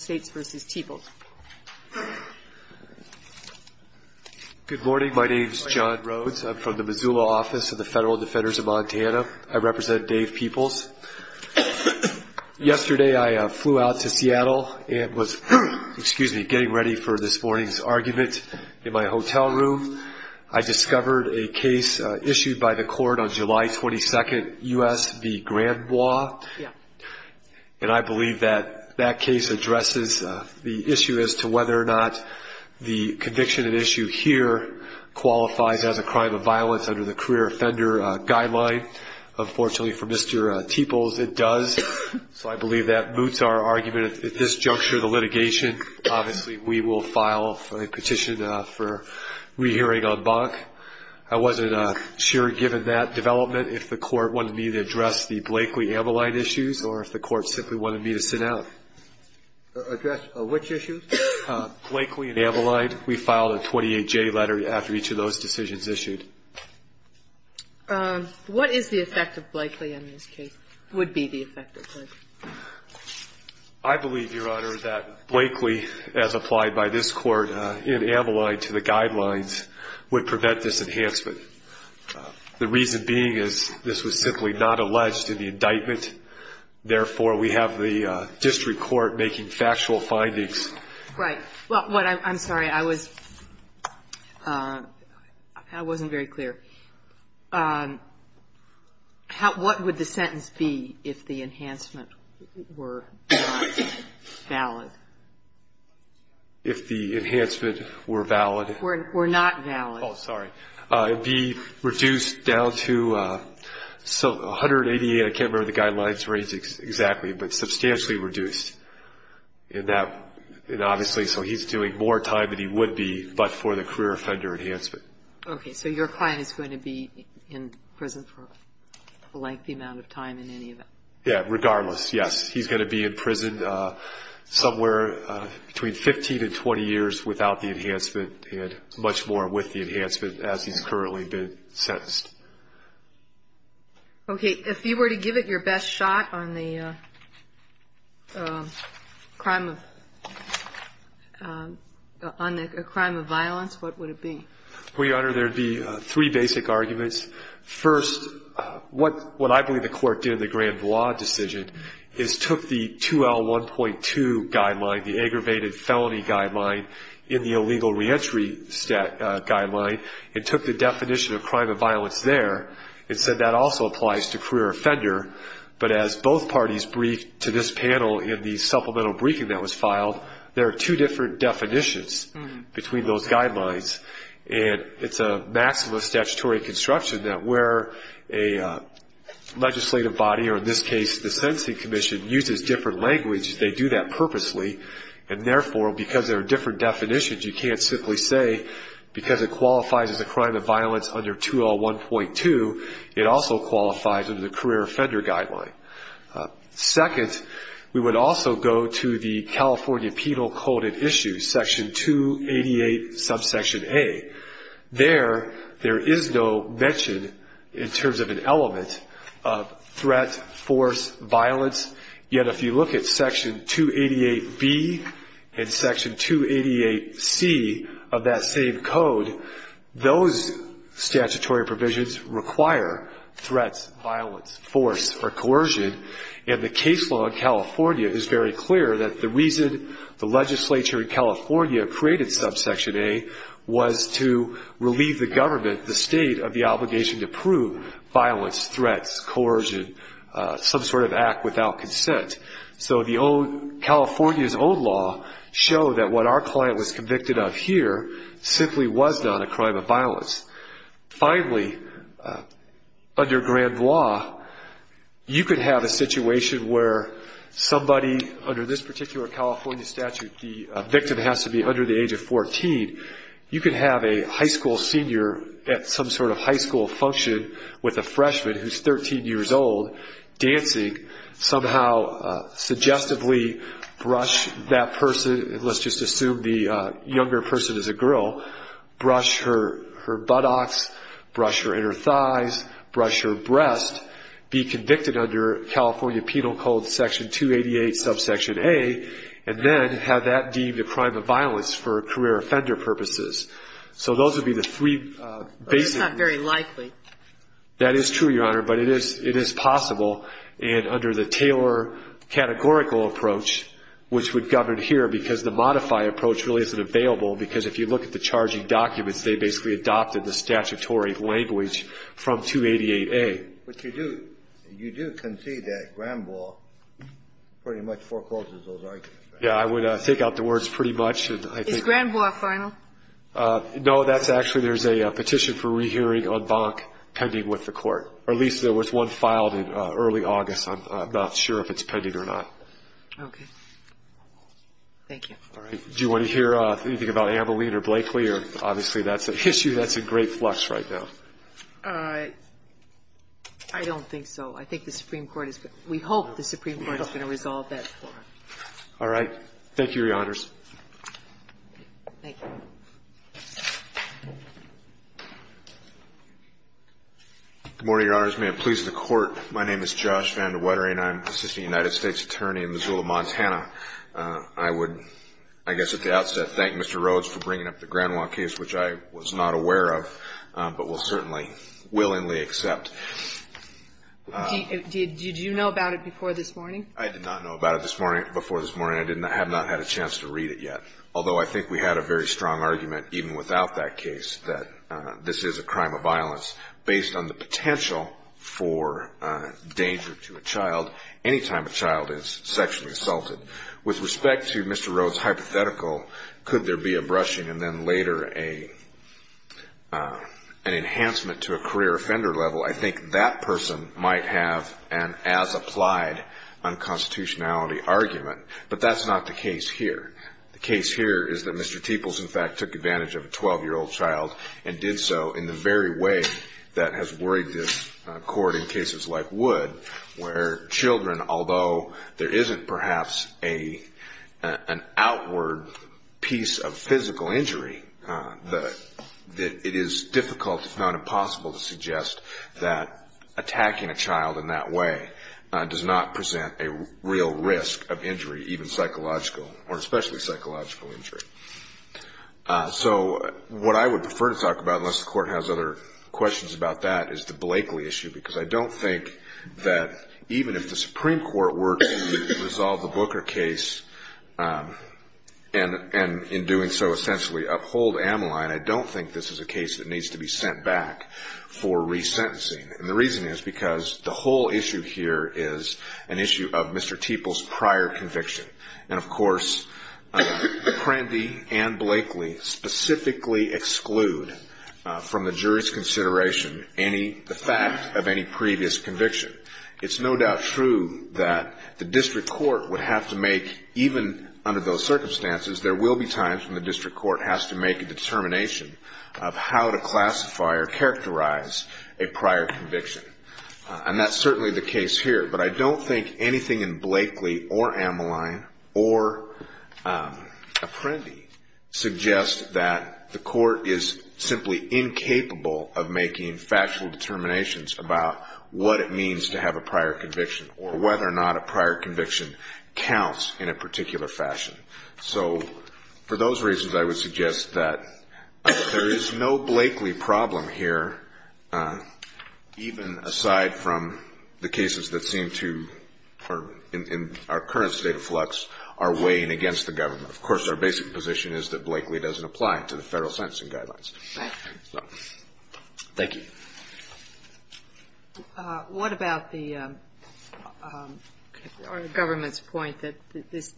Good morning, my name is John Rhodes, I'm from the Missoula office of the Federal Defenders of Montana. I represent Dave Peoples. Yesterday I flew out to Seattle and was getting ready for this morning's argument in my hotel room. I discovered a case issued by the court on July 22nd, U.S. v. Grand The issue is to whether or not the conviction at issue here qualifies as a crime of violence under the career offender guideline. Unfortunately for Mr. Peoples, it does. So I believe that moots our argument at this juncture of the litigation. Obviously we will file a petition for re-hearing en banc. I wasn't sure given that development if the court wanted me to address the Blakely-Ameline issues or if the court simply wanted me to sit down. I believe, Your Honor, that Blakely, as applied by this court in Ameline to the guidelines, would prevent this enhancement. The reason being is this was simply not alleged in the indictment. Therefore, we have the district court making factual claims to the district court. Right. Well, I'm sorry. I wasn't very clear. What would the sentence be if the enhancement were not valid? If the enhancement were valid? Were not valid. Oh, sorry. It would be reduced down to 188. I can't remember the guidelines range exactly, but substantially reduced in that. And obviously, so he's doing more time than he would be but for the career offender enhancement. Okay. So your client is going to be in prison for a lengthy amount of time in any event? Yeah, regardless. Yes, he's going to be in prison somewhere between 15 and 20 years without the enhancement and much more with the enhancement as he's currently been sentenced. Okay. If you were to give it your best shot on the crime of violence, what would it be? Well, Your Honor, there'd be three basic arguments. First, what I believe the court did in the Grand Blanc decision is took the 2L1.2 guideline, the aggravated felony guideline, in the illegal reentry guideline and took the definition of crime of violence there and said that also applies to career offender. But as both parties briefed to this panel in the supplemental briefing that was filed, there are two different definitions between those guidelines. And it's a maxim of statutory construction that where a legislative body, or in this case, the Sentencing Commission, uses different language, they do that purposely. And therefore, because there are different definitions, you can't simply say because it qualifies as a crime of violence under 2L1.2, it also qualifies under the career offender guideline. Second, we would also go to the California Penal Code of Issues, Section 288, subsection A. There, there is no mention in terms of an element of threat, force, violence. Yet if you look at Section 288B and Section 288C of that same code, those statutory provisions require threats, violence, force, or coercion. And the case law in California is very clear that the reason the legislature in California created subsection A was to relieve the government, the state, of the obligation to prove violence, threats, coercion, some sort of act without consent. So California's old law showed that what our client was convicted of here simply was not a crime of violence. Finally, under grand law, you could have a situation where somebody under this particular California statute, the victim has to be under the age of 14. You could have a high school senior at some sort of high school function with a freshman who's 13 years old, dancing, somehow suggestively brush that person, let's just assume the younger person is a girl, brush her buttocks, brush her inner thighs, brush her breast, be convicted under California Penal Code, Section 288, subsection A, and then have that deemed a crime of violence for career offender purposes. So those would be the three basic. That's not very likely. That is true, Your Honor, but it is possible. And under the Taylor categorical approach, which would govern here because the modify approach really isn't available because if you look at the charging documents, they basically adopted the statutory language from 288A. But you do concede that grand law pretty much forecloses those arguments, right? Yeah, I would take out the words pretty much. Is grand law final? No, that's actually, there's a petition for rehearing on Bonk pending with the court, or at least there was one filed in early August. I'm not sure if it's pending or not. Okay. Thank you. All right. Do you want to hear anything about Ameline or Blakely? Obviously, that's an issue that's in great flux right now. I don't think so. I think the Supreme Court is going to, we hope the Supreme Court is going to resolve that for us. All right. Thank you, Your Honors. Thank you. Good morning, Your Honors. May it please the Court. My name is Josh Van de Wettering. I'm Assistant United States Attorney in Missoula, Montana. I would, I guess at the outset, thank Mr. Rhodes for bringing up the grand law case, which I was not aware of, but will certainly willingly accept. Did you know about it before this morning? I did not know about it this morning, before this morning. I have not had a chance to read it yet. Although I think we had a very strong argument, even without that case, that this is a crime of violence, based on the potential for danger to a child any time a child is sexually assaulted. With respect to Mr. Rhodes' hypothetical, could there be a brushing and then later an enhancement to a career offender level, I think that person might have an as-applied unconstitutionality argument. But that's not the case here. The case here is that Mr. Teeples, in fact, took advantage of a 12-year-old child and did so in the very way that has worried this Court in cases like Wood, where children, although there isn't perhaps an outward piece of physical injury, it is difficult, if not impossible, to suggest that attacking a child in that way does not present a real risk of injury, even psychological, or especially psychological injury. So what I would prefer to talk about, unless the Court has other questions about that, is the Blakeley issue, because I don't think that even if the Supreme Court were to resolve the Booker case, and in doing so, essentially uphold Ameline, I don't think this is a case that needs to be sent back for resentencing. And the reason is because the whole issue here is an issue of Mr. Teeples' prior conviction. And, of course, Prandtl and Blakeley specifically exclude from the jury's consideration the fact of any previous conviction. It's no doubt true that the district court would have to make, even under those circumstances, there will be times when the district court has to make a determination of how to classify or characterize a prior conviction. And that's certainly the case here. But I don't think anything in Blakeley or Ameline or Apprendi suggests that the Court is simply incapable of making factual determinations about what it means to have a prior conviction or whether or not a prior conviction counts in a particular fashion. So for those reasons, I would suggest that there is no Blakeley problem here, even aside from the cases that seem to, in our current state of flux, are weighing against the government. Of course, our basic position is that Blakeley doesn't apply to the federal sentencing guidelines. Thank you. What about the government's point that this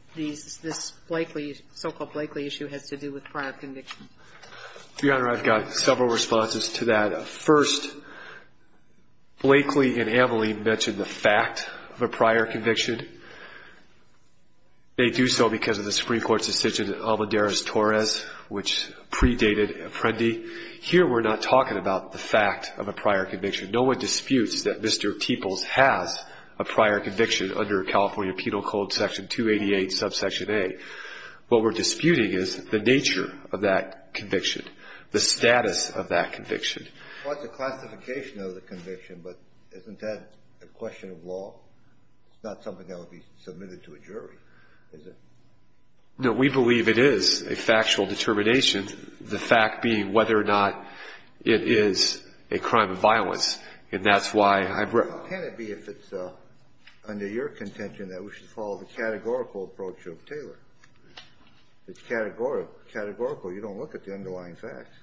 Blakeley, so-called Blakeley issue, has to do with prior convictions? Your Honor, I've got several responses to that. First, Blakeley and Ameline mentioned the fact of a prior conviction. They do so because of the Supreme Court's decision in Alvarez-Torres, which predated Apprendi. Here we're not talking about the fact of a prior conviction. No one disputes that Mr. Teeples has a prior conviction under California Penal Code Section 288, Subsection A. What we're disputing is the nature of that conviction, the status of that conviction. Well, it's a classification of the conviction, but isn't that a question of law? It's not something that would be submitted to a jury, is it? No, we believe it is a factual determination, the fact being whether or not it is a crime of violence. And that's why I've raised it. Well, can it be, if it's under your contention, that we should follow the categorical approach of Taylor? It's categorical. You don't look at the underlying facts.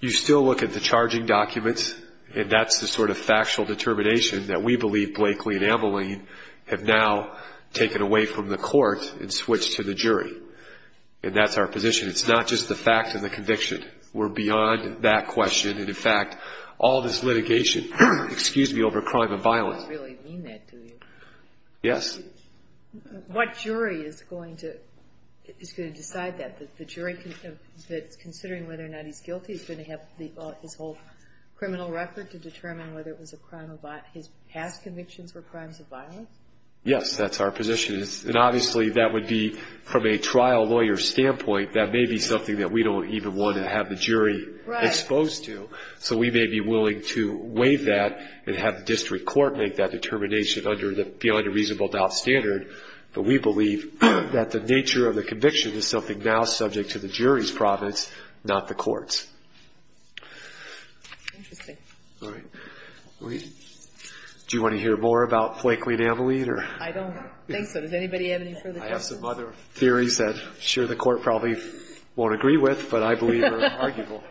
You still look at the charging documents, and that's the sort of factual determination that we believe Blakeley and Ameline have now taken away from the court and switched to the jury. And that's our position. It's not just the fact of the conviction. We're beyond that question. And, in fact, all this litigation, excuse me, over crime of violence. You don't really mean that, do you? Yes. What jury is going to decide that? The jury that's considering whether or not he's guilty is going to have his whole criminal record to determine whether it was a crime of violence. His past convictions were crimes of violence? Yes, that's our position. And, obviously, that would be, from a trial lawyer's standpoint, that may be something that we don't even want to have the jury exposed to. So we may be willing to waive that and have the district court make that determination beyond a reasonable doubt standard. But we believe that the nature of the conviction is something now subject to the jury's province, not the court's. Interesting. All right. Do you want to hear more about Flakeley and Ameline? I don't think so. Does anybody have any further questions? I have some other theories that I'm sure the court probably won't agree with, but I believe are arguable.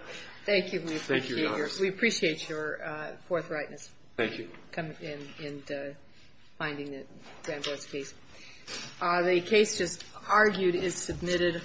Thank you. We appreciate your forthrightness. Thank you. In finding the Danvers case. The case just argued is submitted.